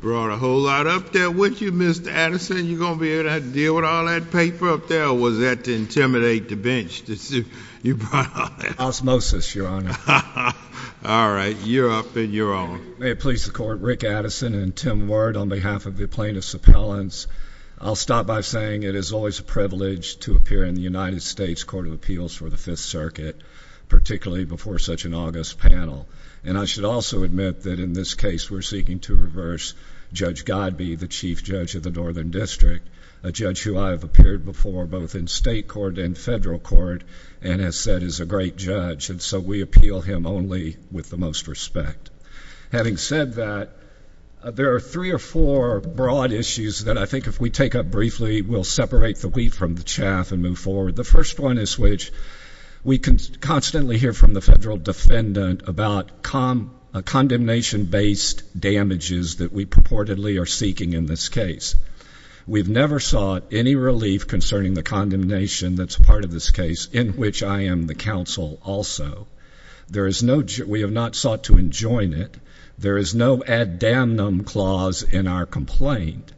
Brought a whole lot up there with you Mr. Addison, you going to be able to deal with all that paper up there, or was that to intimidate the bench to see you brought all that up? Osmosis, your honor. All right, you're up and you're on. May it please the court, Rick Addison and Tim Ward on behalf of the plaintiffs' appellants, I'll stop by saying it is always a privilege to appear in the United States Court of Appeals for the Fifth Circuit, particularly before such an august panel. And I should also admit that in this case we're seeking to reverse Judge Godbee, the chief judge of the Northern District, a judge who I have appeared before both in state court and federal court and has said is a great judge, and so we appeal him only with the most respect. Having said that, there are three or four broad issues that I think if we take up briefly we'll separate the wheat from the chaff and move forward. The first one is which we can constantly hear from the federal defendant about condemnation-based damages that we purportedly are seeking in this case. We've never sought any relief concerning the condemnation that's part of this case, in which I am the counsel also. We have not sought to enjoin it. There is no ad damnum clause in our complaint.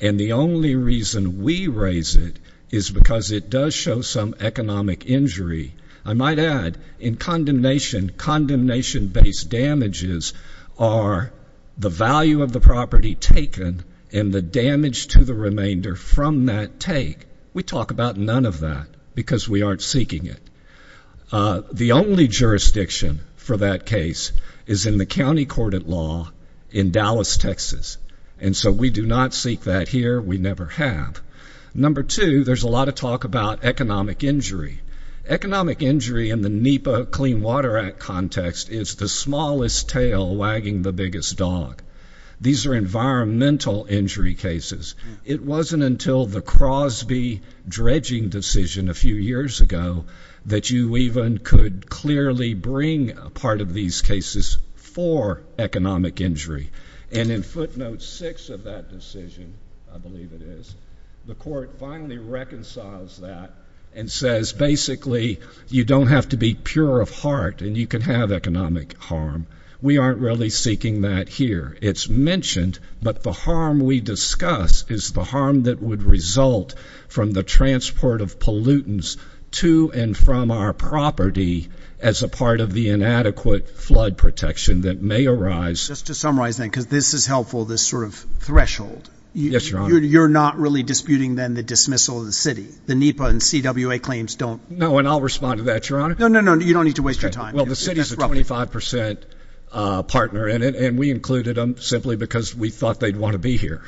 And the only reason we raise it is because it does show some economic injury. I might add in condemnation, condemnation-based damages are the value of the property taken and the damage to the remainder from that take. We talk about none of that because we aren't seeking it. The only jurisdiction for that case is in the county court at law in Dallas, Texas. And so we do not seek that here. We never have. Number two, there's a lot of talk about economic injury. Economic injury in the NEPA Clean Water Act context is the smallest tail wagging the biggest dog. These are environmental injury cases. It wasn't until the Crosby dredging decision a few years ago that you even could clearly bring a part of these cases for economic injury. And in footnote six of that decision, I believe it is, the court finally reconciles that and says basically you don't have to be pure of heart and you can have economic harm. We aren't really seeking that here. It's mentioned, but the harm we discuss is the harm that would result from the transport of pollutants to and from our property as a part of the inadequate flood protection that may arise. Just to summarize, then, because this is helpful, this sort of threshold. Yes, Your Honor. You're not really disputing, then, the dismissal of the city. The NEPA and CWA claims don't. No, and I'll respond to that, Your Honor. No, no, no. You don't need to waste your time. Well, the city is a 25 percent partner in it, and we included them simply because we thought they'd want to be here.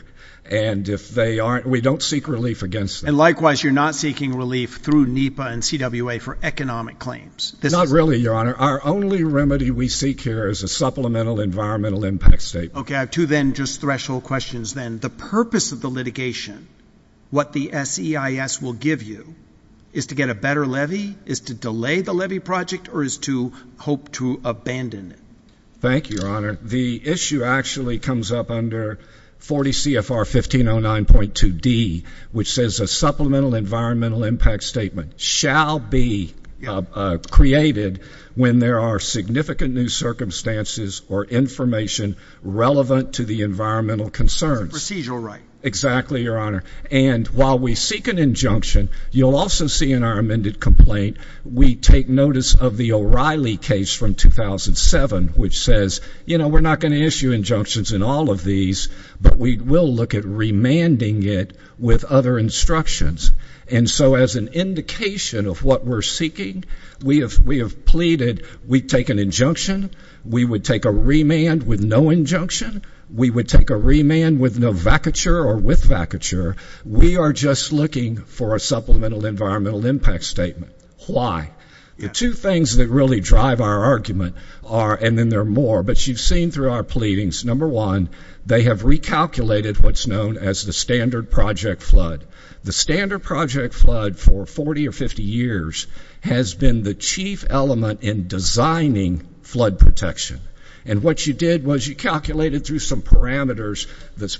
And if they aren't, we don't seek relief against them. And likewise, you're not seeking relief through NEPA and CWA for economic claims. Not really, Your Honor. Our only remedy we seek here is a supplemental environmental impact statement. Okay, I have two, then, just threshold questions, then. The purpose of the litigation, what the SEIS will give you, is to get a better levy, is to delay the levy project, or is to hope to abandon it? Thank you, Your Honor. The issue actually comes up under 40 CFR 1509.2d, which says a supplemental environmental impact statement shall be created when there are significant new circumstances or information relevant to the environmental concerns. It's a procedural right. Exactly, Your Honor. And while we seek an injunction, you'll also see in our amended complaint, we take notice of the O'Reilly case from 2007, which says, you know, we're not going to issue injunctions in all of these, but we will look at remanding it with other instructions. And so as an indication of what we're seeking, we have pleaded, we take an injunction, we would take a remand with no injunction, we would take a remand with no vacature or with vacature. We are just looking for a supplemental environmental impact statement. Why? Two things that really drive our argument are, and then there are more, but you've seen through our pleadings, number one, they have recalculated what's known as the standard project flood. The standard project flood for 40 or 50 years has been the chief element in designing flood protection. And what you did was you calculated through some parameters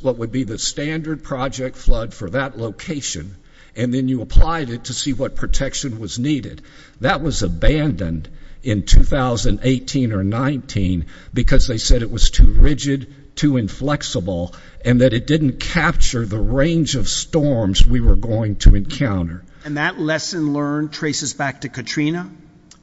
what would be the standard project flood for that location, and then you applied it to see what protection was needed. That was abandoned in 2018 or 19 because they said it was too rigid, too inflexible, and that it didn't capture the range of storms we were going to encounter. And that lesson learned traces back to Katrina?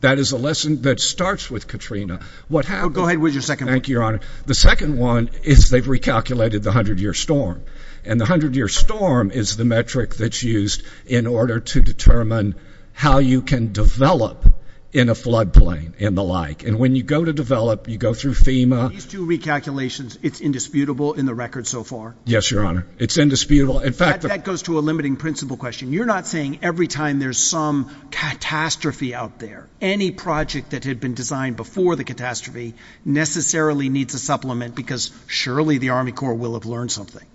That is a lesson that starts with Katrina. Go ahead with your second one. Thank you, Your Honor. The second one is they've recalculated the 100-year storm, and the 100-year storm is the metric that's used in order to determine how you can develop in a floodplain and the like. And when you go to develop, you go through FEMA. These two recalculations, it's indisputable in the record so far? Yes, Your Honor. It's indisputable? That goes to a limiting principle question. You're not saying every time there's some catastrophe out there, any project that had been designed before the catastrophe necessarily needs a supplement because surely the Army Corps will have learned something.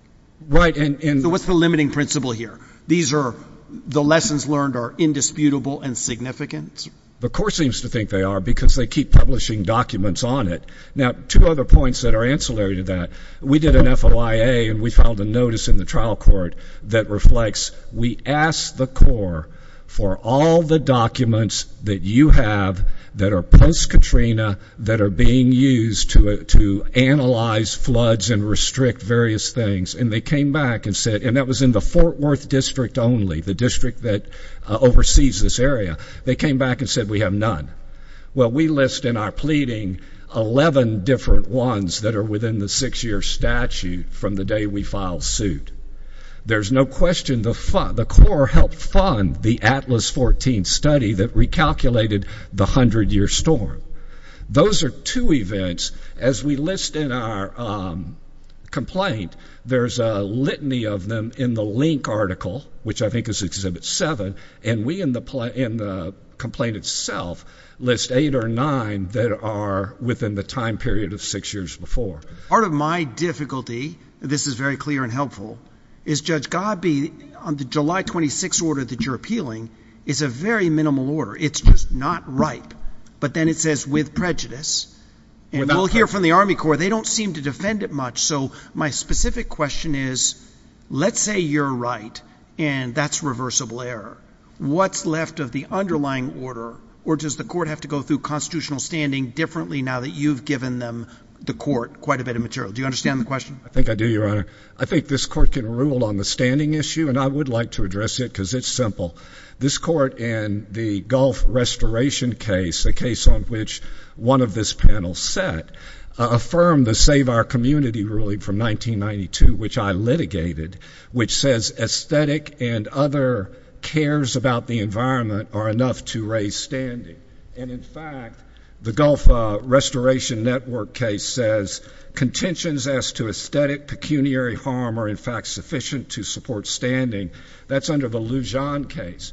Right. So what's the limiting principle here? These are the lessons learned are indisputable and significant? The Corps seems to think they are because they keep publishing documents on it. Now, two other points that are ancillary to that, we did an FOIA and we filed a notice in the trial court that reflects we ask the Corps for all the documents that you have that are post-Katrina, that are being used to analyze floods and restrict various things. And they came back and said, and that was in the Fort Worth district only, the district that oversees this area. They came back and said we have none. Well, we list in our pleading 11 different ones that are within the six-year statute from the day we filed suit. There's no question the Corps helped fund the Atlas 14 study that recalculated the 100-year storm. Those are two events. As we list in our complaint, there's a litany of them in the link article, which I think is Exhibit 7, and we in the complaint itself list eight or nine that are within the time period of six years before. Part of my difficulty, this is very clear and helpful, is Judge Gabbi, the July 26 order that you're appealing is a very minimal order. It's just not right. But then it says with prejudice, and we'll hear from the Army Corps, they don't seem to defend it much. So my specific question is, let's say you're right and that's reversible error. What's left of the underlying order, or does the court have to go through constitutional standing differently now that you've given them, the court, quite a bit of material? Do you understand the question? I think I do, Your Honor. I think this court can rule on the standing issue, and I would like to address it because it's simple. This court and the Gulf restoration case, a case on which one of this panel sat, affirmed the Save Our Community ruling from 1992, which I litigated, which says aesthetic and other cares about the environment are enough to raise standing. And, in fact, the Gulf restoration network case says contentions as to aesthetic pecuniary harm are, in fact, sufficient to support standing. That's under the Lujan case.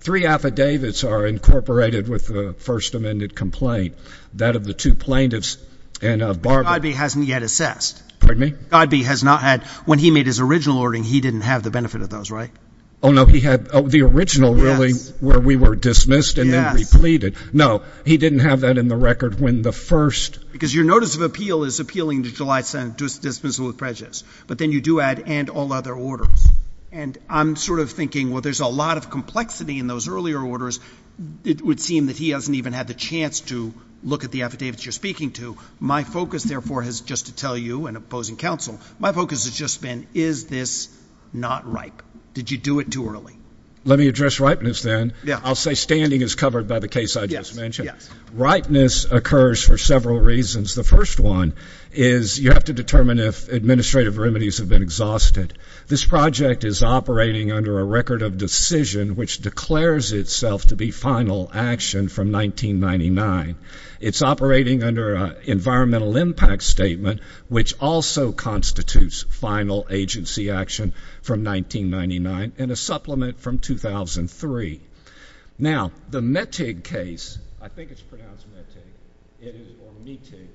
Three affidavits are incorporated with the First Amendment complaint, that of the two plaintiffs and of Barber. Judge Gabbi hasn't yet assessed. Pardon me? Judge Gabbi has not had. When he made his original ordering, he didn't have the benefit of those, right? Oh, no. He had the original ruling where we were dismissed and then repleted. Yes. No. He didn't have that in the record when the first. Because your notice of appeal is appealing to July 7th dismissal of prejudice, but then you do add and all other orders. And I'm sort of thinking, well, there's a lot of complexity in those earlier orders. It would seem that he hasn't even had the chance to look at the affidavits you're speaking to. My focus, therefore, is just to tell you, and opposing counsel, my focus has just been, is this not ripe? Did you do it too early? Let me address ripeness then. I'll say standing is covered by the case I just mentioned. Ripeness occurs for several reasons. The first one is you have to determine if administrative remedies have been exhausted. This project is operating under a record of decision which declares itself to be final action from 1999. It's operating under an environmental impact statement which also constitutes final agency action from 1999 and a supplement from 2003. Now, the Metig case, I think it's pronounced Metig, or Metig,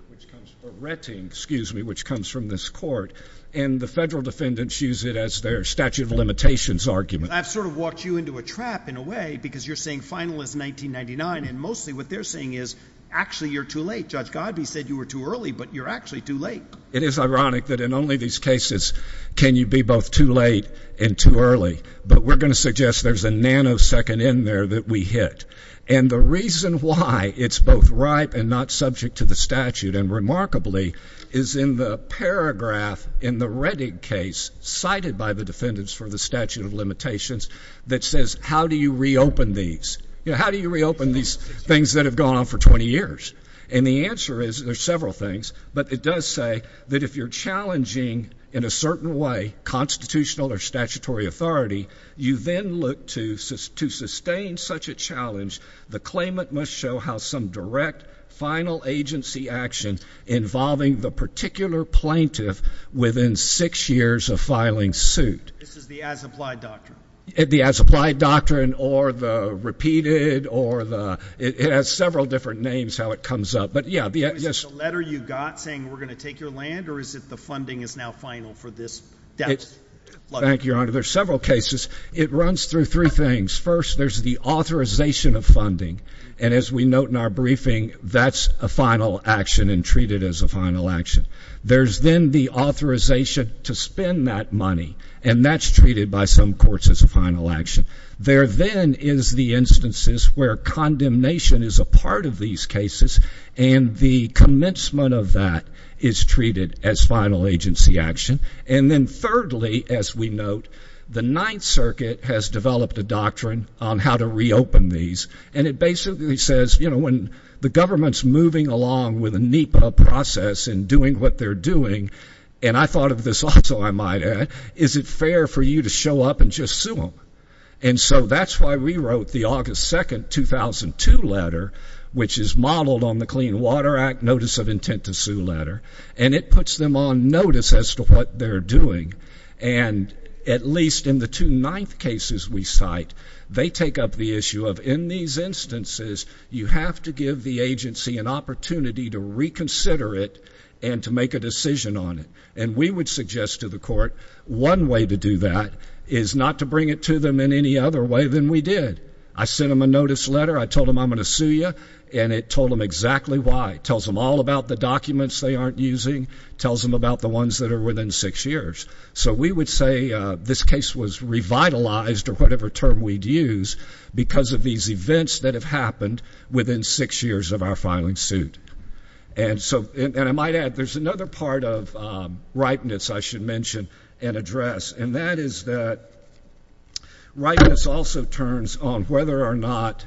or Rettig, excuse me, which comes from this court, and the federal defendants use it as their statute of limitations argument. I've sort of walked you into a trap in a way because you're saying final is 1999, and mostly what they're saying is actually you're too late. Judge Godbee said you were too early, but you're actually too late. It is ironic that in only these cases can you be both too late and too early, but we're going to suggest there's a nanosecond in there that we hit. And the reason why it's both ripe and not subject to the statute, and remarkably, is in the paragraph in the Rettig case cited by the defendants for the statute of limitations that says how do you reopen these. You know, how do you reopen these things that have gone on for 20 years? And the answer is there's several things, but it does say that if you're challenging in a certain way constitutional or statutory authority, you then look to sustain such a challenge. The claimant must show how some direct final agency action involving the particular plaintiff within six years of filing suit. This is the as-applied doctrine. The as-applied doctrine or the repeated or the ‑‑ it has several different names how it comes up. But, yeah. Is it the letter you got saying we're going to take your land, or is it the funding is now final for this debt? Thank you, Your Honor. There's several cases. It runs through three things. First, there's the authorization of funding, and as we note in our briefing, that's a final action and treated as a final action. There's then the authorization to spend that money, and that's treated by some courts as a final action. There then is the instances where condemnation is a part of these cases, and the commencement of that is treated as final agency action. And then thirdly, as we note, the Ninth Circuit has developed a doctrine on how to reopen these, and it basically says, you know, when the government's moving along with a NEPA process and doing what they're doing, and I thought of this also, I might add, is it fair for you to show up and just sue them? And so that's why we wrote the August 2, 2002 letter, which is modeled on the Clean Water Act Notice of Intent to Sue letter, and it puts them on notice as to what they're doing, and at least in the two ninth cases we cite, they take up the issue of, in these instances, you have to give the agency an opportunity to reconsider it and to make a decision on it. And we would suggest to the court, one way to do that is not to bring it to them in any other way than we did. I sent them a notice letter, I told them I'm going to sue you, and it told them exactly why. It tells them all about the documents they aren't using, tells them about the ones that are within six years. So we would say this case was revitalized, or whatever term we'd use, because of these events that have happened within six years of our filing suit. And so, and I might add, there's another part of rightness I should mention and address, and that is that rightness also turns on whether or not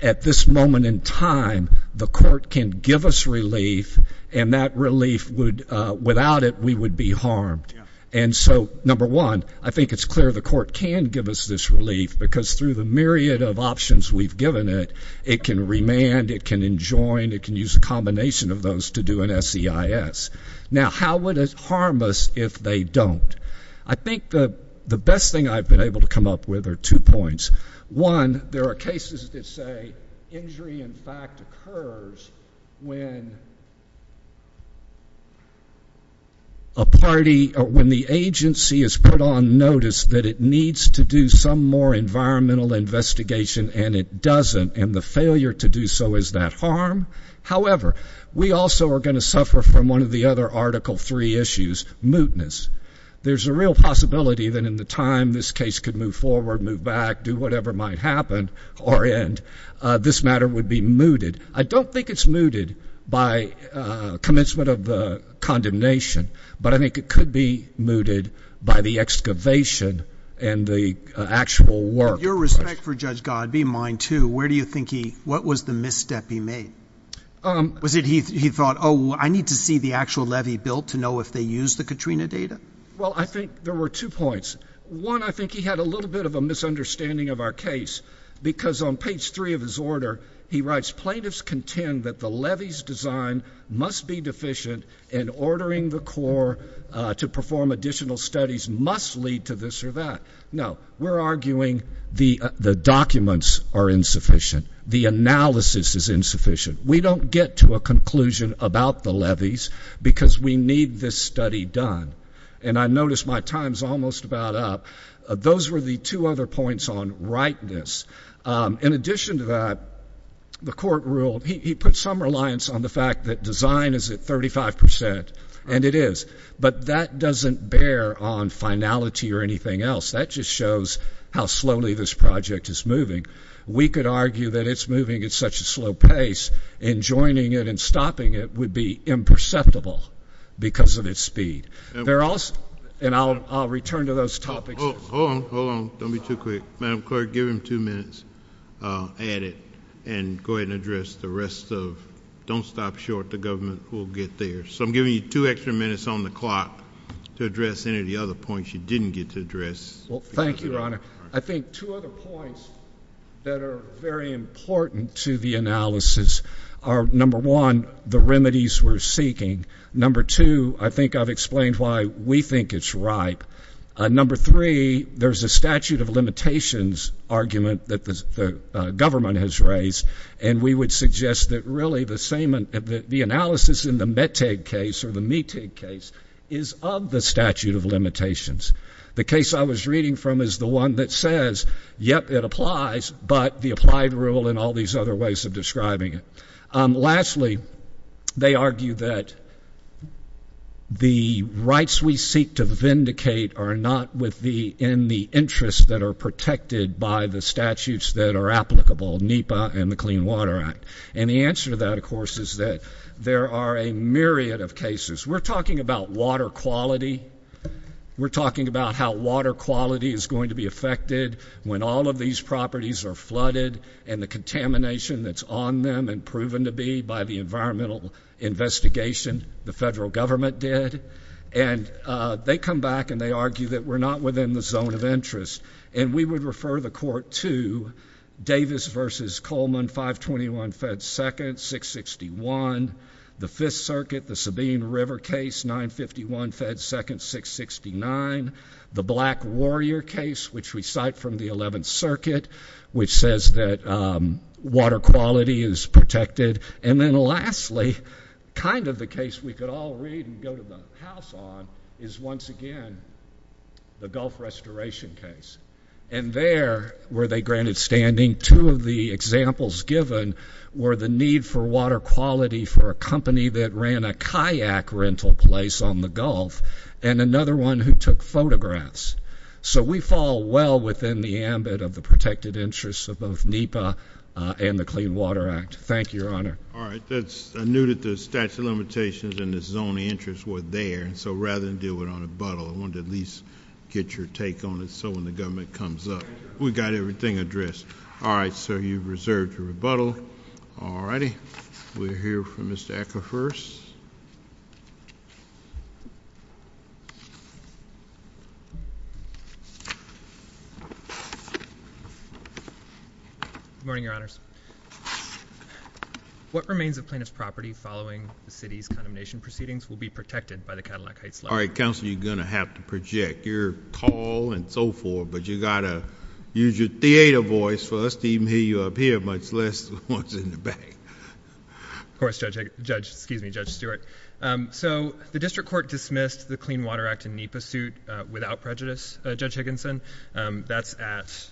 at this moment in time the court can give us relief, and that relief would, without it, we would be harmed. And so, number one, I think it's clear the court can give us this relief, because through the myriad of options we've given it, it can remand, it can enjoin, it can use a combination of those to do an SEIS. Now, how would it harm us if they don't? I think the best thing I've been able to come up with are two points. One, there are cases that say injury, in fact, occurs when a party, or when the agency has put on notice that it needs to do some more environmental investigation and it doesn't, and the failure to do so is that harm. However, we also are going to suffer from one of the other Article III issues, mootness. There's a real possibility that in the time this case could move forward, move back, do whatever might happen or end, this matter would be mooted. I don't think it's mooted by commencement of the condemnation, but I think it could be mooted by the excavation and the actual work. With your respect for Judge Godd, be mine too, where do you think he, what was the misstep he made? Was it he thought, oh, I need to see the actual levee built to know if they used the Katrina data? Well, I think there were two points. One, I think he had a little bit of a misunderstanding of our case because on page three of his order he writes, plaintiffs contend that the levee's design must be deficient and ordering the Corps to perform additional studies must lead to this or that. No, we're arguing the documents are insufficient. The analysis is insufficient. We don't get to a conclusion about the levees because we need this study done. And I notice my time's almost about up. Those were the two other points on rightness. In addition to that, the court ruled, he put some reliance on the fact that design is at 35 percent, and it is. But that doesn't bear on finality or anything else. That just shows how slowly this project is moving. We could argue that it's moving at such a slow pace and joining it and stopping it would be imperceptible because of its speed. And I'll return to those topics. Hold on, hold on. Don't be too quick. Madam Clerk, give him two minutes, add it, and go ahead and address the rest of it. Don't stop short. The government will get there. So I'm giving you two extra minutes on the clock to address any of the other points you didn't get to address. Well, thank you, Your Honor. I think two other points that are very important to the analysis are, number one, the remedies we're seeking. Number two, I think I've explained why we think it's ripe. Number three, there's a statute of limitations argument that the government has raised, and we would suggest that really the analysis in the Meteg case or the Meteg case is of the statute of limitations. The case I was reading from is the one that says, yep, it applies, but the applied rule and all these other ways of describing it. Lastly, they argue that the rights we seek to vindicate are not in the interests that are protected by the statutes that are applicable, NEPA and the Clean Water Act. And the answer to that, of course, is that there are a myriad of cases. We're talking about water quality. We're talking about how water quality is going to be affected when all of these properties are flooded and the contamination that's on them and proven to be by the environmental investigation the federal government did. And they come back and they argue that we're not within the zone of interest, and we would refer the court to Davis v. Coleman, 521 Fed 2nd, 661. The Fifth Circuit, the Sabine River case, 951 Fed 2nd, 669. The Black Warrior case, which we cite from the Eleventh Circuit, which says that water quality is protected. And then lastly, kind of the case we could all read and go to the house on, is once again the Gulf Restoration case. And there were they granted standing. Two of the examples given were the need for water quality for a company that ran a kayak rental place on the Gulf and another one who took photographs. So we fall well within the ambit of the protected interests of both NEPA and the Clean Water Act. Thank you, Your Honor. All right. I knew that the statute of limitations and the zone of interest were there, so rather than deal with it on rebuttal, I wanted to at least get your take on it so when the government comes up, we've got everything addressed. All right. So you've reserved your rebuttal. All righty. We'll hear from Mr. Ecker first. Good morning, Your Honors. What remains of plaintiff's property following the city's condemnation proceedings will be protected by the Cadillac Heights Law? All right, Counsel, you're going to have to project your call and so forth, but you've got to use your theater voice for us to even hear you up here, much less the ones in the back. Of course, Judge Stewart. So the district court dismissed the Clean Water Act and NEPA suit without prejudice, Judge Higginson. That's at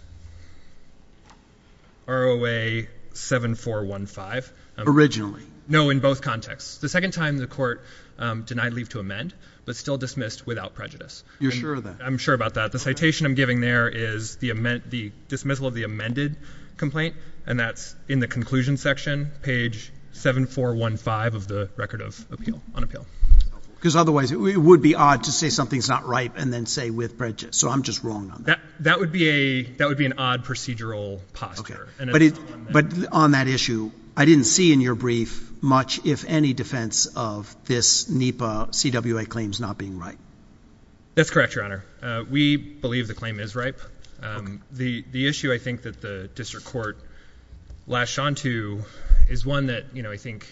ROA 7415. Originally? No, in both contexts. The second time the court denied leave to amend but still dismissed without prejudice. You're sure of that? I'm sure about that. The citation I'm giving there is the dismissal of the amended complaint, and that's in the conclusion section, page 7415 of the record of appeal, on appeal. Because otherwise it would be odd to say something's not right and then say with prejudice. So I'm just wrong on that. That would be an odd procedural posture. But on that issue, I didn't see in your brief much, if any, defense of this NEPA CWA claims not being right. That's correct, Your Honor. We believe the claim is ripe. The issue I think that the district court latched on to is one that I think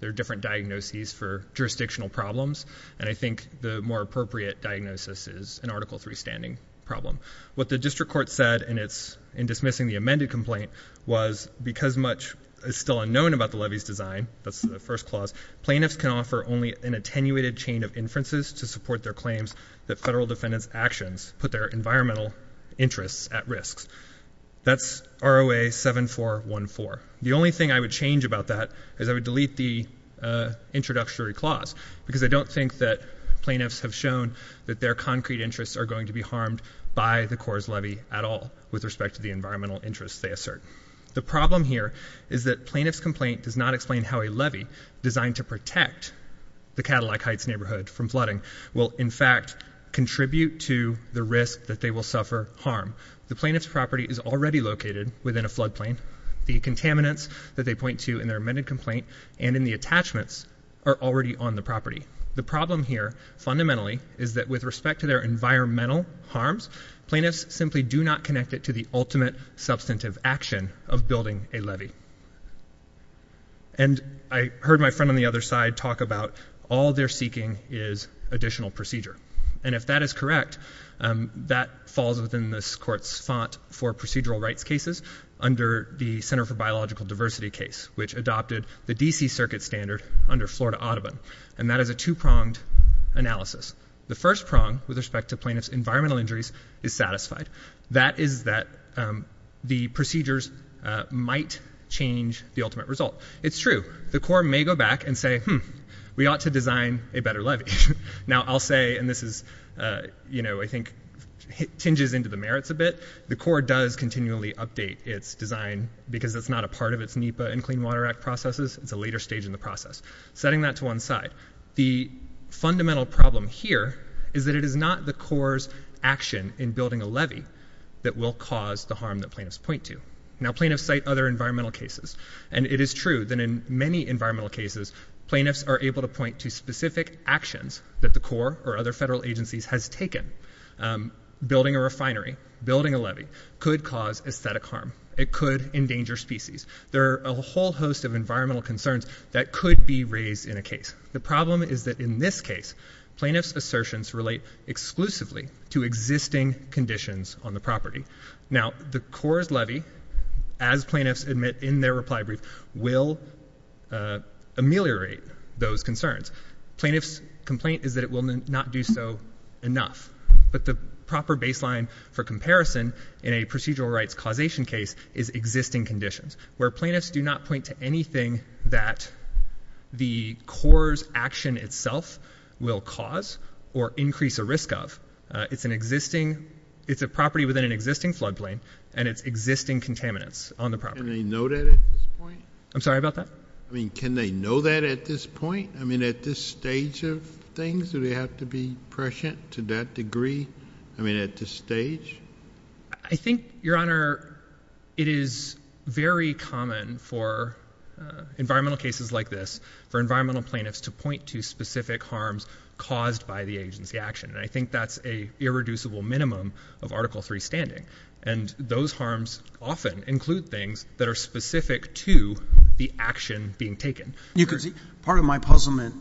there are different diagnoses for jurisdictional problems, and I think the more appropriate diagnosis is an Article III standing problem. What the district court said in dismissing the amended complaint was because much is still unknown about the levy's design, that's the first clause, plaintiffs can offer only an attenuated chain of inferences to support their claims that federal defendants' actions put their environmental interests at risk. That's ROA 7414. The only thing I would change about that is I would delete the introductory clause, because I don't think that plaintiffs have shown that their concrete interests are going to be harmed by the Corps' levy at all with respect to the environmental interests they assert. The problem here is that plaintiff's complaint does not explain how a levy designed to protect the Cadillac Heights neighborhood from flooding will, in fact, contribute to the risk that they will suffer harm. The plaintiff's property is already located within a flood plain. The contaminants that they point to in their amended complaint and in the attachments are already on the property. The problem here, fundamentally, is that with respect to their environmental harms, plaintiffs simply do not connect it to the ultimate substantive action of building a levy. And I heard my friend on the other side talk about all they're seeking is additional procedure. And if that is correct, that falls within this court's font for procedural rights cases under the Center for Biological Diversity case, which adopted the D.C. Circuit standard under Florida Audubon. And that is a two-pronged analysis. The first prong with respect to plaintiff's environmental injuries is satisfied. That is that the procedures might change the ultimate result. It's true. The Corps may go back and say, hmm, we ought to design a better levy. Now, I'll say, and this is, you know, I think hinges into the merits a bit, the Corps does continually update its design because it's not a part of its NEPA and Clean Water Act processes. It's a later stage in the process. Setting that to one side. The fundamental problem here is that it is not the Corps' action in building a levy that will cause the harm that plaintiffs point to. Now, plaintiffs cite other environmental cases. And it is true that in many environmental cases, plaintiffs are able to point to specific actions that the Corps or other federal agencies has taken. Building a refinery, building a levy could cause aesthetic harm. It could endanger species. There are a whole host of environmental concerns that could be raised in a case. The problem is that in this case, plaintiffs' assertions relate exclusively to existing conditions on the property. Now, the Corps' levy, as plaintiffs admit in their reply brief, will ameliorate those concerns. Plaintiff's complaint is that it will not do so enough. But the proper baseline for comparison in a procedural rights causation case is existing conditions, where plaintiffs do not point to anything that the Corps' action itself will cause or increase a risk of. It's a property within an existing floodplain, and it's existing contaminants on the property. Can they know that at this point? I'm sorry about that? I mean, can they know that at this point? I mean, at this stage of things, do they have to be prescient to that degree? I mean, at this stage? I think, Your Honor, it is very common for environmental cases like this, for environmental plaintiffs to point to specific harms caused by the agency action, and I think that's an irreducible minimum of Article III standing. And those harms often include things that are specific to the action being taken. You could see part of my puzzlement.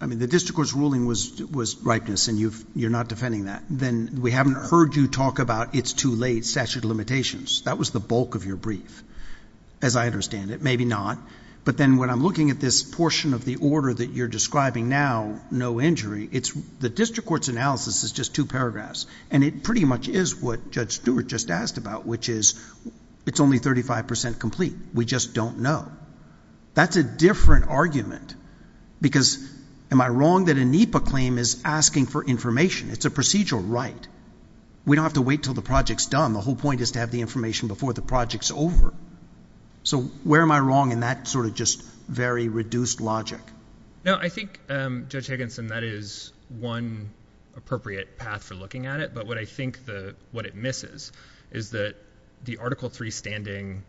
I mean, the district court's ruling was ripeness, and you're not defending that. Then we haven't heard you talk about it's too late statute of limitations. That was the bulk of your brief, as I understand it. Maybe not. But then when I'm looking at this portion of the order that you're describing now, no injury, the district court's analysis is just two paragraphs, and it pretty much is what Judge Stewart just asked about, which is it's only 35 percent complete. We just don't know. That's a different argument, because am I wrong that a NEPA claim is asking for information? It's a procedural right. We don't have to wait until the project's done. The whole point is to have the information before the project's over. So where am I wrong in that sort of just very reduced logic? No, I think, Judge Higginson, that is one appropriate path for looking at it. But what I think what it misses is that the Article III standing,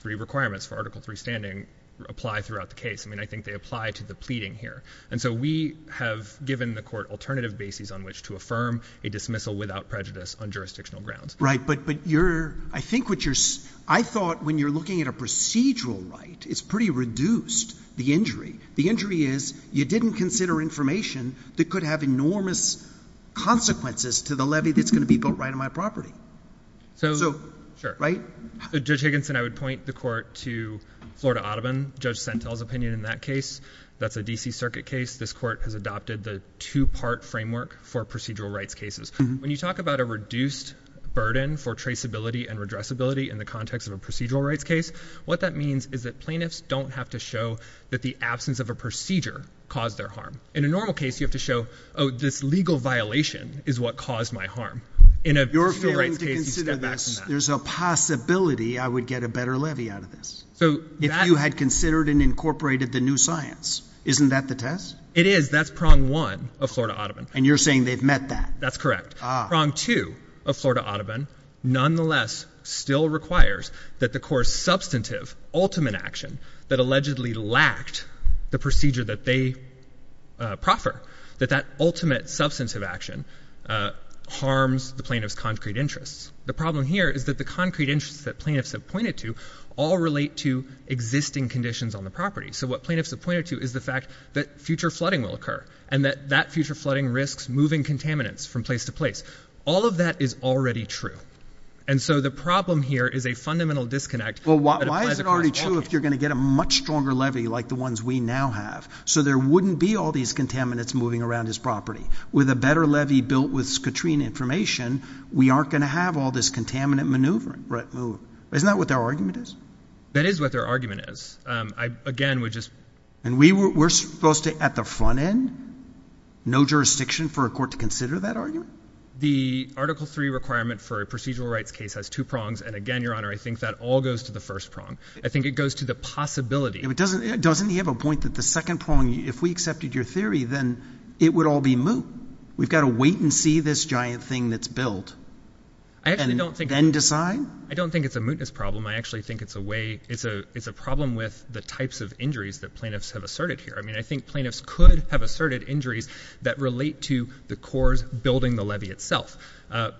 three requirements for Article III standing, apply throughout the case. I mean, I think they apply to the pleading here. And so we have given the court alternative bases on which to affirm a dismissal without prejudice on jurisdictional grounds. Right, but I think what you're ‑‑ I thought when you're looking at a procedural right, it's pretty reduced, the injury. The injury is you didn't consider information that could have enormous consequences to the levy that's going to be built right on my property. So, right? Sure. Judge Higginson, I would point the court to Florida Audubon, Judge Sentel's opinion in that case. That's a D.C. Circuit case. This court has adopted the two‑part framework for procedural rights cases. When you talk about a reduced burden for traceability and redressability in the context of a procedural rights case, what that means is that plaintiffs don't have to show that the absence of a procedure caused their harm. In a normal case, you have to show, oh, this legal violation is what caused my harm. You're failing to consider this. There's a possibility I would get a better levy out of this if you had considered and incorporated the new science. Isn't that the test? It is. That's prong one of Florida Audubon. And you're saying they've met that? That's correct. Ah. Prong two of Florida Audubon nonetheless still requires that the court's substantive ultimate action that allegedly lacked the procedure that they proffer, that that ultimate substantive action harms the plaintiff's concrete interests. The problem here is that the concrete interests that plaintiffs have pointed to all relate to existing conditions on the property. So what plaintiffs have pointed to is the fact that future flooding will occur and that that future flooding risks moving contaminants from place to place. All of that is already true. And so the problem here is a fundamental disconnect. Well, why is it already true if you're going to get a much stronger levy like the ones we now have so there wouldn't be all these contaminants moving around this property? With a better levy built with Scotrine information, we aren't going to have all this contaminant maneuvering. Isn't that what their argument is? That is what their argument is. And we're supposed to at the front end? No jurisdiction for a court to consider that argument? The Article III requirement for a procedural rights case has two prongs. And again, Your Honor, I think that all goes to the first prong. I think it goes to the possibility. Doesn't he have a point that the second prong, if we accepted your theory, then it would all be moot. We've got to wait and see this giant thing that's built and then decide? I don't think it's a mootness problem. I actually think it's a problem with the types of injuries that plaintiffs have asserted here. I mean, I think plaintiffs could have asserted injuries that relate to the cores building the levy itself.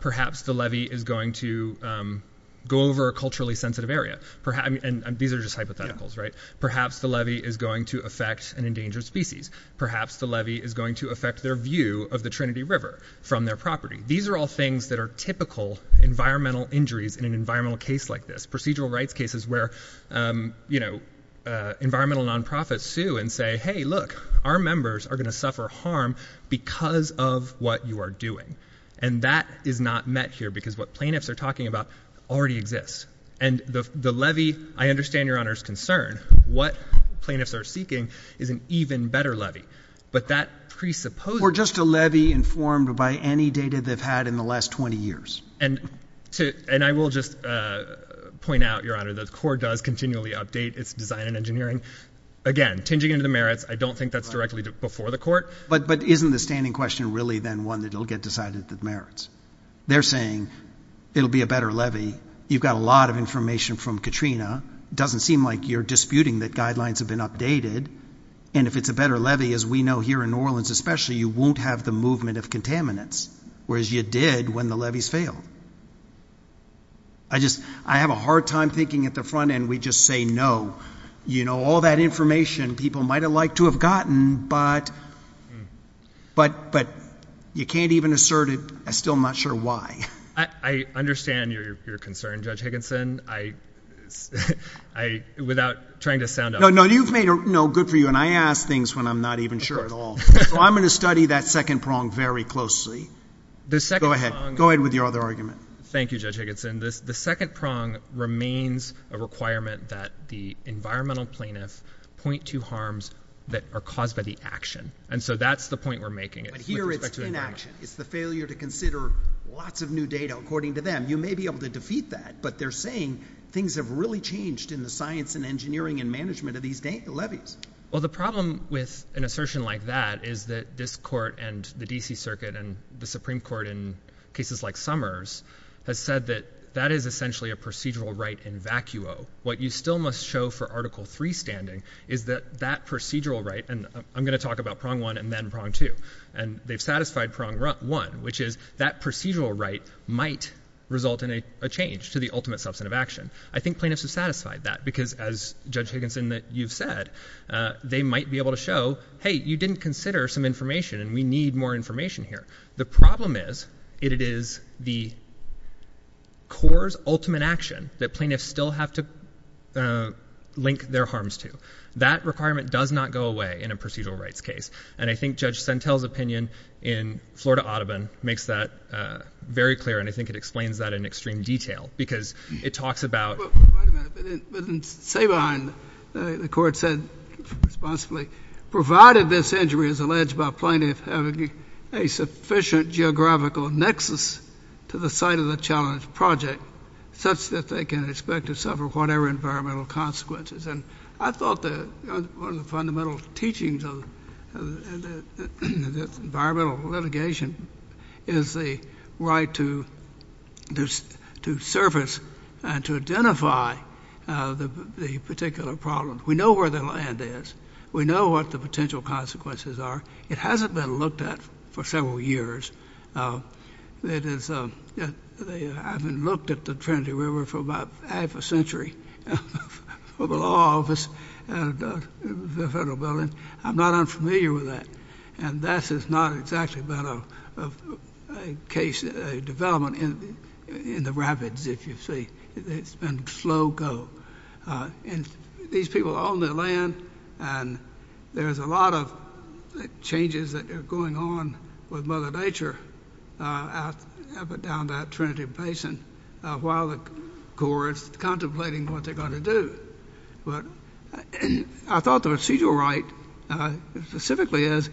Perhaps the levy is going to go over a culturally sensitive area. And these are just hypotheticals, right? Perhaps the levy is going to affect an endangered species. Perhaps the levy is going to affect their view of the Trinity River from their property. These are all things that are typical environmental injuries in an environmental case like this. Procedural rights cases where, you know, environmental nonprofits sue and say, hey, look, our members are going to suffer harm because of what you are doing. And that is not met here because what plaintiffs are talking about already exists. And the levy, I understand Your Honor's concern. What plaintiffs are seeking is an even better levy. Or just a levy informed by any data they've had in the last 20 years. And I will just point out, Your Honor, the court does continually update its design and engineering. Again, tinging into the merits, I don't think that's directly before the court. But isn't the standing question really then one that it will get decided that merits? They're saying it will be a better levy. You've got a lot of information from Katrina. It doesn't seem like you're disputing that guidelines have been updated. And if it's a better levy, as we know here in New Orleans especially, you won't have the movement of contaminants. Whereas you did when the levies failed. I have a hard time thinking at the front end. We just say no. You know, all that information people might have liked to have gotten, but you can't even assert it. I'm still not sure why. I understand your concern, Judge Higginson, without trying to sound out. No, you've made it good for you, and I ask things when I'm not even sure at all. So I'm going to study that second prong very closely. Go ahead. Go ahead with your other argument. Thank you, Judge Higginson. The second prong remains a requirement that the environmental plaintiffs point to harms that are caused by the action. And so that's the point we're making with respect to the environment. But here it's inaction. It's the failure to consider lots of new data according to them. You may be able to defeat that, but they're saying things have really changed in the science and engineering and management of these levies. Well, the problem with an assertion like that is that this court and the D.C. Circuit and the Supreme Court in cases like Summers has said that that is essentially a procedural right in vacuo. What you still must show for Article III standing is that that procedural right, and I'm going to talk about prong one and then prong two, and they've satisfied prong one, which is that procedural right might result in a change to the ultimate substantive action. I think plaintiffs have satisfied that because, as Judge Higginson, you've said, they might be able to show, hey, you didn't consider some information and we need more information here. The problem is it is the court's ultimate action that plaintiffs still have to link their harms to. That requirement does not go away in a procedural rights case. And I think Judge Sentel's opinion in Florida Audubon makes that very clear, and I think it explains that in extreme detail because it talks about. Wait a minute, but in Sabine, the court said responsibly, provided this injury is alleged by plaintiff having a sufficient geographical nexus to the site of the challenge project, such that they can expect to suffer whatever environmental consequences. And I thought that one of the fundamental teachings of environmental litigation is the right to service and to identify the particular problem. We know where the land is. We know what the potential consequences are. It hasn't been looked at for several years. I haven't looked at the Trinity River for about half a century for the law office and the federal building. I'm not unfamiliar with that, and that is not exactly a case development in the rapids, if you see. It's been a slow go. These people own the land, and there's a lot of changes that are going on with Mother Nature up and down that Trinity Basin while the court is contemplating what they're going to do. But I thought the procedural right specifically is,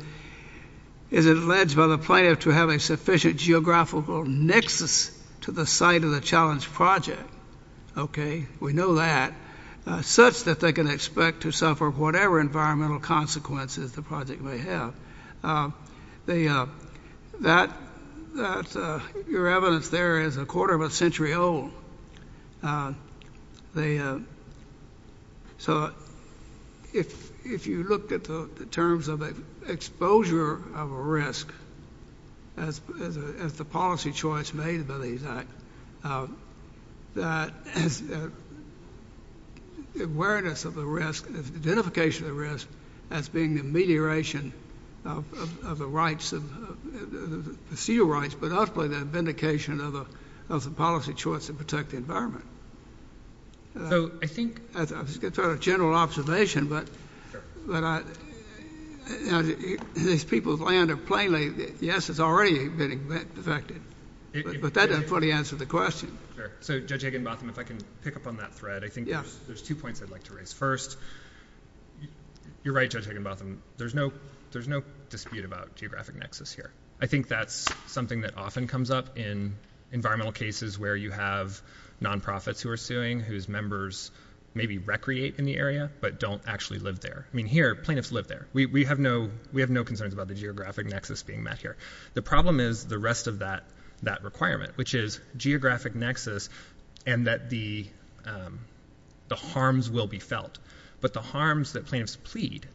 is it alleged by the plaintiff to have a sufficient geographical nexus to the site of the challenge project. We know that. Such that they can expect to suffer whatever environmental consequences the project may have. Your evidence there is a quarter of a century old. So if you look at the terms of exposure of a risk, as the policy choice made by these acts, that awareness of the risk, identification of the risk, as being the mediation of the rights, the seal rights, but ultimately the vindication of the policy choice to protect the environment. I was going to throw out a general observation, but these people's land are plainly, yes, it's already been affected. But that doesn't fully answer the question. Sure. So Judge Higginbotham, if I can pick up on that thread, I think there's two points I'd like to raise. First, you're right, Judge Higginbotham, there's no dispute about geographic nexus here. I think that's something that often comes up in environmental cases where you have non-profits who are suing, whose members maybe recreate in the area, but don't actually live there. I mean, here, plaintiffs live there. We have no concerns about the geographic nexus being met here. The problem is the rest of that requirement, which is geographic nexus and that the harms will be felt. But the harms that plaintiffs plead,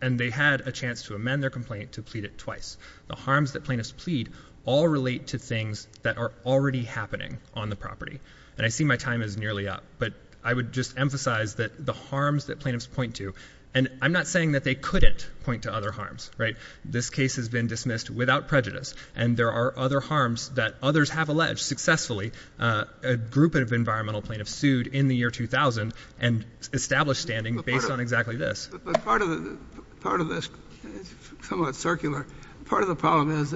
and they had a chance to amend their complaint to plead it twice, the harms that plaintiffs plead all relate to things that are already happening on the property. And I see my time is nearly up, but I would just emphasize that the harms that plaintiffs point to, and I'm not saying that they couldn't point to other harms. Right? This case has been dismissed without prejudice, and there are other harms that others have alleged successfully a group of environmental plaintiffs sued in the year 2000 and established standing based on exactly this. But part of this is somewhat circular. Part of the problem is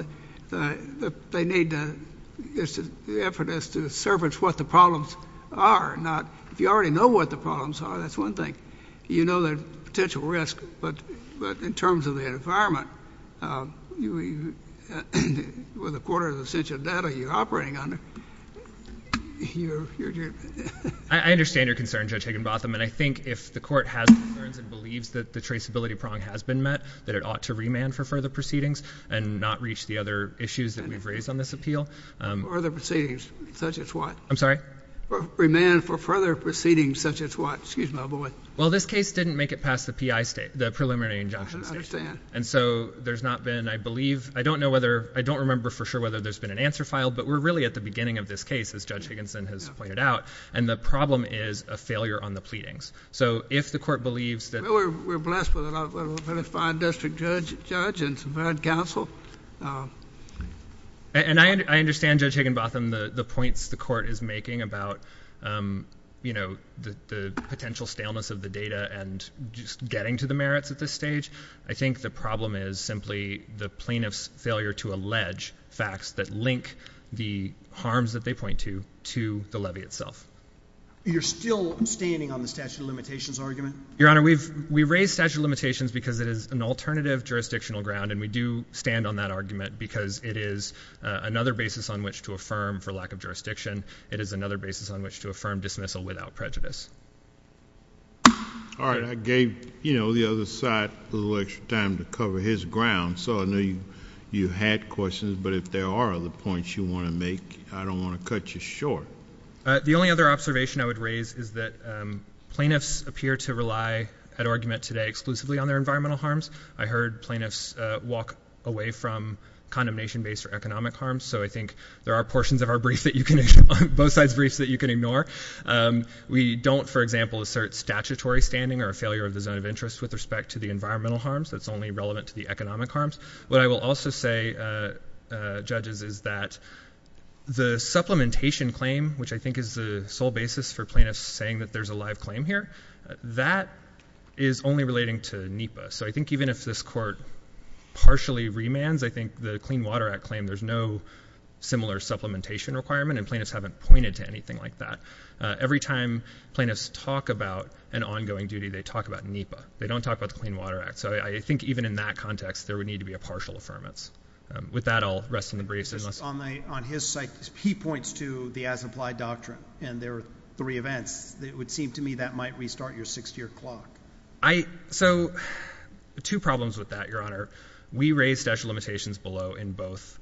that they need the effort to surface what the problems are, not if you already know what the problems are, that's one thing. You know the potential risk, but in terms of the environment, with a quarter of the censure data you're operating under, you're... I understand your concern, Judge Higginbotham, and I think if the court has concerns and believes that the traceability prong has been met, that it ought to remand for further proceedings and not reach the other issues that we've raised on this appeal. Further proceedings, such as what? I'm sorry? Remand for further proceedings, such as what? Excuse my boy. Well, this case didn't make it past the preliminary injunction stage. I understand. And so there's not been, I believe, I don't know whether, I don't remember for sure whether there's been an answer file, but we're really at the beginning of this case, as Judge Higginson has pointed out, and the problem is a failure on the pleadings. So if the court believes that... We're blessed with a fine district judge and some bad counsel. And I understand, Judge Higginbotham, the points the court is making about, you know, the potential staleness of the data and just getting to the merits at this stage. I think the problem is simply the plaintiff's failure to allege facts that link the harms that they point to to the levy itself. You're still standing on the statute of limitations argument? Your Honor, we've raised statute of limitations because it is an alternative jurisdictional ground, and we do stand on that argument because it is another basis on which to affirm for lack of jurisdiction. It is another basis on which to affirm dismissal without prejudice. All right. I gave, you know, the other side a little extra time to cover his ground, so I know you had questions, but if there are other points you want to make, I don't want to cut you short. The only other observation I would raise is that plaintiffs appear to rely at argument today exclusively on their environmental harms. I heard plaintiffs walk away from condemnation-based or economic harms, so I think there are portions of our briefs that you can ignore, both sides' briefs that you can ignore. We don't, for example, assert statutory standing or a failure of the zone of interest with respect to the environmental harms. That's only relevant to the economic harms. What I will also say, Judges, is that the supplementation claim, which I think is the sole basis for plaintiffs saying that there's a live claim here, that is only relating to NEPA. So I think even if this Court partially remands, I think the Clean Water Act claim, there's no similar supplementation requirement, and plaintiffs haven't pointed to anything like that. Every time plaintiffs talk about an ongoing duty, they talk about NEPA. They don't talk about the Clean Water Act. So I think even in that context, there would need to be a partial affirmance. With that, I'll rest in the briefs. On his side, he points to the as-implied doctrine and their three events. It would seem to me that might restart your 60-year clock. So two problems with that, Your Honor. We raised statute of limitations below in both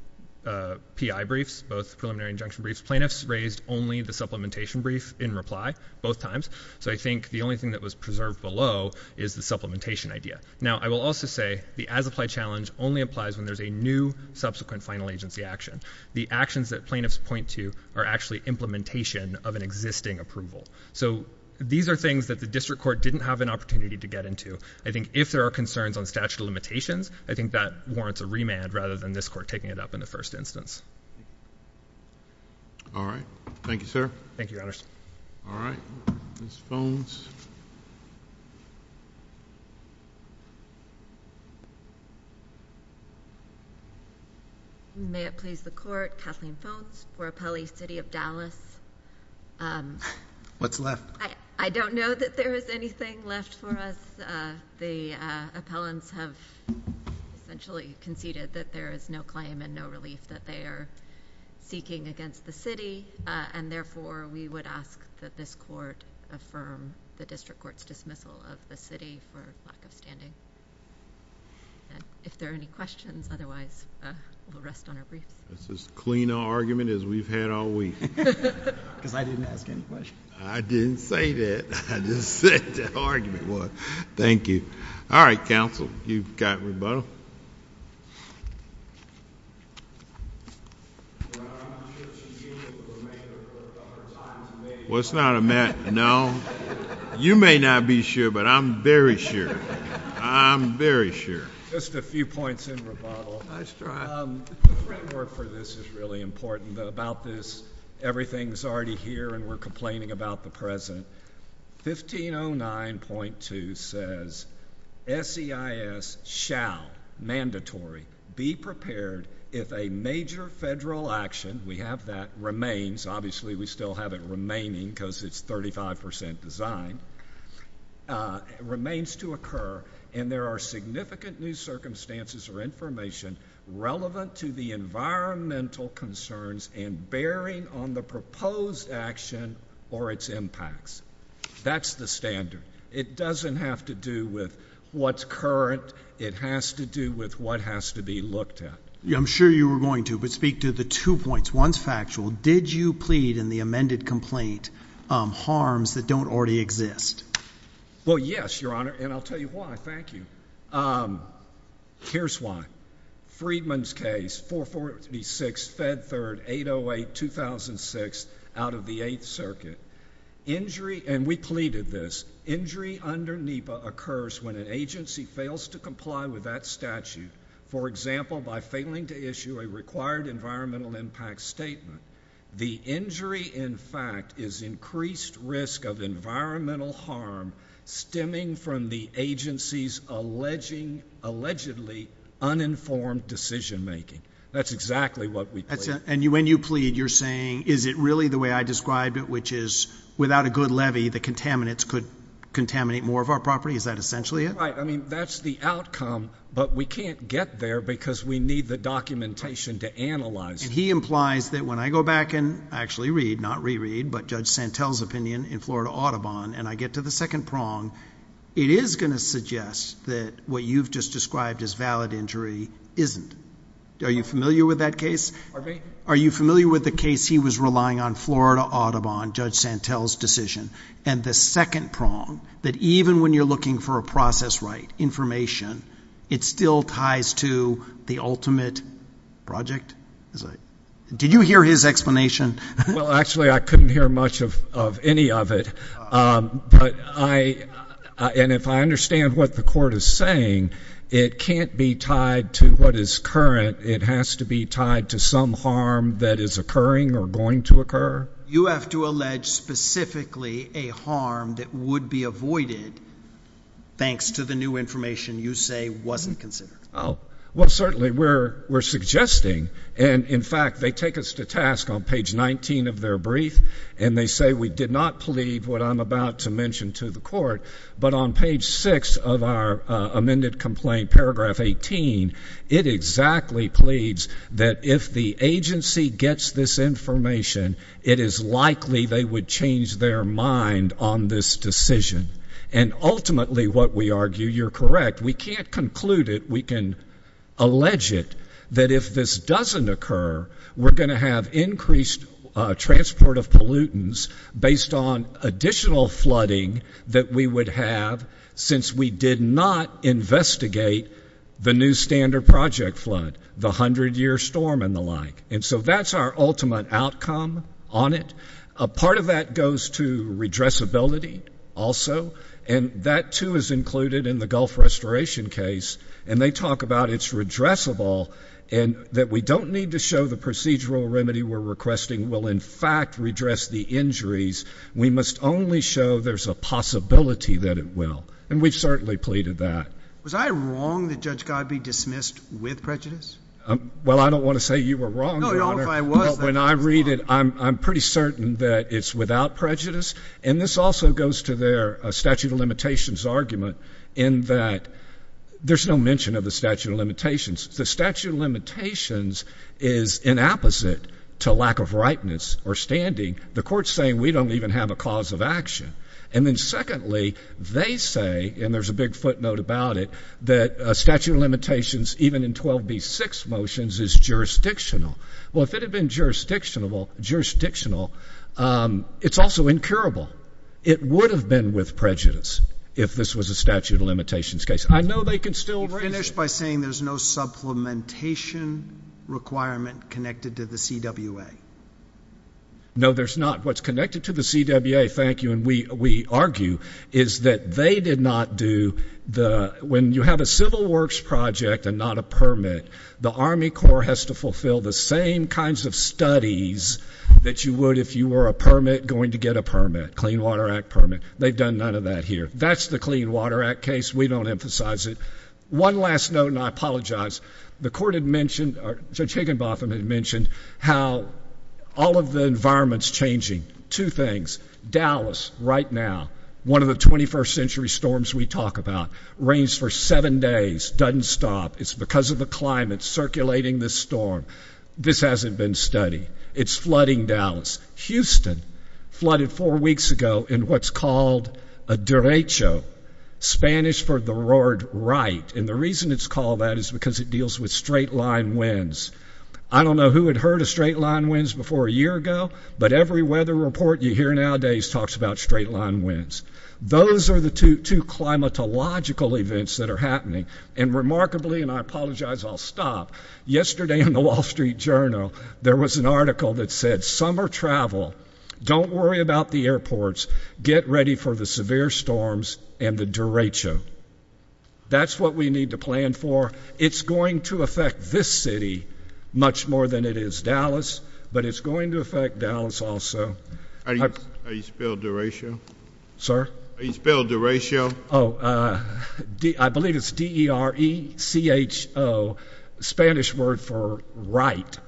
PI briefs, both preliminary injunction briefs. Plaintiffs raised only the supplementation brief in reply both times. So I think the only thing that was preserved below is the supplementation idea. Now, I will also say the as-applied challenge only applies when there's a new subsequent final agency action. The actions that plaintiffs point to are actually implementation of an existing approval. So these are things that the district court didn't have an opportunity to get into. I think if there are concerns on statute of limitations, I think that warrants a remand rather than this court taking it up in the first instance. All right. Thank you, sir. All right. Ms. Phones. May it please the court, Kathleen Phones for appellee city of Dallas. What's left? I don't know that there is anything left for us. The appellants have essentially conceded that there is no claim and no relief that they are seeking against the city. And therefore, we would ask that this court affirm the district court's dismissal of the city for lack of standing. If there are any questions, otherwise, we'll rest on our briefs. That's as clean an argument as we've had all week. Because I didn't ask any questions. I didn't say that. I just said the argument was. Thank you. All right, counsel. You've got rebuttal. Well, it's not a matter of no. You may not be sure, but I'm very sure. I'm very sure. Just a few points in rebuttal. Nice try. The framework for this is really important. About this, everything's already here and we're complaining about the present. 1509.2 says, SEIS shall, mandatory, be prepared if a major federal action, we have that, remains. Obviously, we still have it remaining because it's 35% design. Remains to occur. And there are significant new circumstances or information relevant to the environmental concerns and bearing on the proposed action or its impacts. That's the standard. It doesn't have to do with what's current. It has to do with what has to be looked at. I'm sure you were going to, but speak to the two points. One's factual. Did you plead in the amended complaint harms that don't already exist? Well, yes, Your Honor. And I'll tell you why. Thank you. Here's why. Friedman's case, 446, Fed Third, 808, 2006, out of the Eighth Circuit. Injury, and we pleaded this, injury under NEPA occurs when an agency fails to comply with that statute. For example, by failing to issue a required environmental impact statement. The injury, in fact, is increased risk of environmental harm stemming from the agency's allegedly uninformed decision making. That's exactly what we pleaded. And when you plead, you're saying, is it really the way I described it, which is without a good levy, the contaminants could contaminate more of our property? Is that essentially it? Right. I mean, that's the outcome, but we can't get there because we need the documentation to analyze it. He implies that when I go back and actually read, not reread, but Judge Santel's opinion in Florida Audubon, and I get to the second prong, it is going to suggest that what you've just described as valid injury isn't. Are you familiar with that case? Pardon me? Are you familiar with the case he was relying on Florida Audubon, Judge Santel's decision, and the second prong, that even when you're looking for a process right, information, it still ties to the ultimate project? Did you hear his explanation? Well, actually, I couldn't hear much of any of it, and if I understand what the court is saying, it can't be tied to what is current. It has to be tied to some harm that is occurring or going to occur. You have to allege specifically a harm that would be avoided thanks to the new information you say wasn't considered. Well, certainly we're suggesting, and, in fact, they take us to task on page 19 of their brief, and they say we did not plead what I'm about to mention to the court, but on page 6 of our amended complaint, paragraph 18, it exactly pleads that if the agency gets this information, it is likely they would change their mind on this decision, and ultimately what we argue, you're correct, we can't conclude it. We can allege it that if this doesn't occur, we're going to have increased transport of pollutants based on additional flooding that we would have since we did not investigate the new standard project flood, the 100-year storm and the like. And so that's our ultimate outcome on it. Part of that goes to redressability also, and that, too, is included in the Gulf restoration case, and they talk about it's redressable and that we don't need to show the procedural remedy we're requesting will, in fact, redress the injuries. We must only show there's a possibility that it will, and we've certainly pleaded that. Was I wrong that Judge Godby dismissed with prejudice? Well, I don't want to say you were wrong, Your Honor, but when I read it, I'm pretty certain that it's without prejudice, and this also goes to their statute of limitations argument in that there's no mention of the statute of limitations. The statute of limitations is inapposite to lack of ripeness or standing. The court's saying we don't even have a cause of action. And then secondly, they say, and there's a big footnote about it, that a statute of limitations, even in 12b-6 motions, is jurisdictional. Well, if it had been jurisdictional, it's also incurable. It would have been with prejudice if this was a statute of limitations case. I know they can still raise it. You finish by saying there's no supplementation requirement connected to the CWA. No, there's not. What's connected to the CWA, thank you, and we argue, is that they did not do the, when you have a civil works project and not a permit, the Army Corps has to fulfill the same kinds of studies that you would if you were a permit going to get a permit, Clean Water Act permit. They've done none of that here. That's the Clean Water Act case. We don't emphasize it. One last note, and I apologize. The court had mentioned, or Judge Higginbotham had mentioned, how all of the environment's changing. Two things. Dallas, right now, one of the 21st century storms we talk about, rains for seven days, doesn't stop. It's because of the climate circulating this storm. This hasn't been studied. It's flooding Dallas. Houston flooded four weeks ago in what's called a derecho, Spanish for the word right. And the reason it's called that is because it deals with straight-line winds. I don't know who had heard of straight-line winds before a year ago, but every weather report you hear nowadays talks about straight-line winds. Those are the two climatological events that are happening. And remarkably, and I apologize, I'll stop. Yesterday in the Wall Street Journal, there was an article that said, summer travel, don't worry about the airports, get ready for the severe storms and the derecho. That's what we need to plan for. It's going to affect this city much more than it is Dallas, but it's going to affect Dallas also. Are you spelled derecho? Sir? Are you spelled derecho? Oh, I believe it's D-E-R-E-C-H-O, Spanish word for right.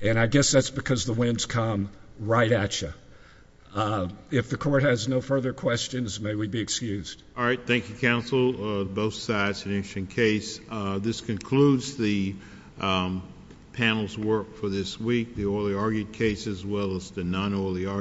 And I guess that's because the winds come right at you. If the court has no further questions, may we be excused. All right, thank you, counsel, both sides, an interesting case. This concludes the panel's work for this week, the orally argued case as well as the non-orally argued case.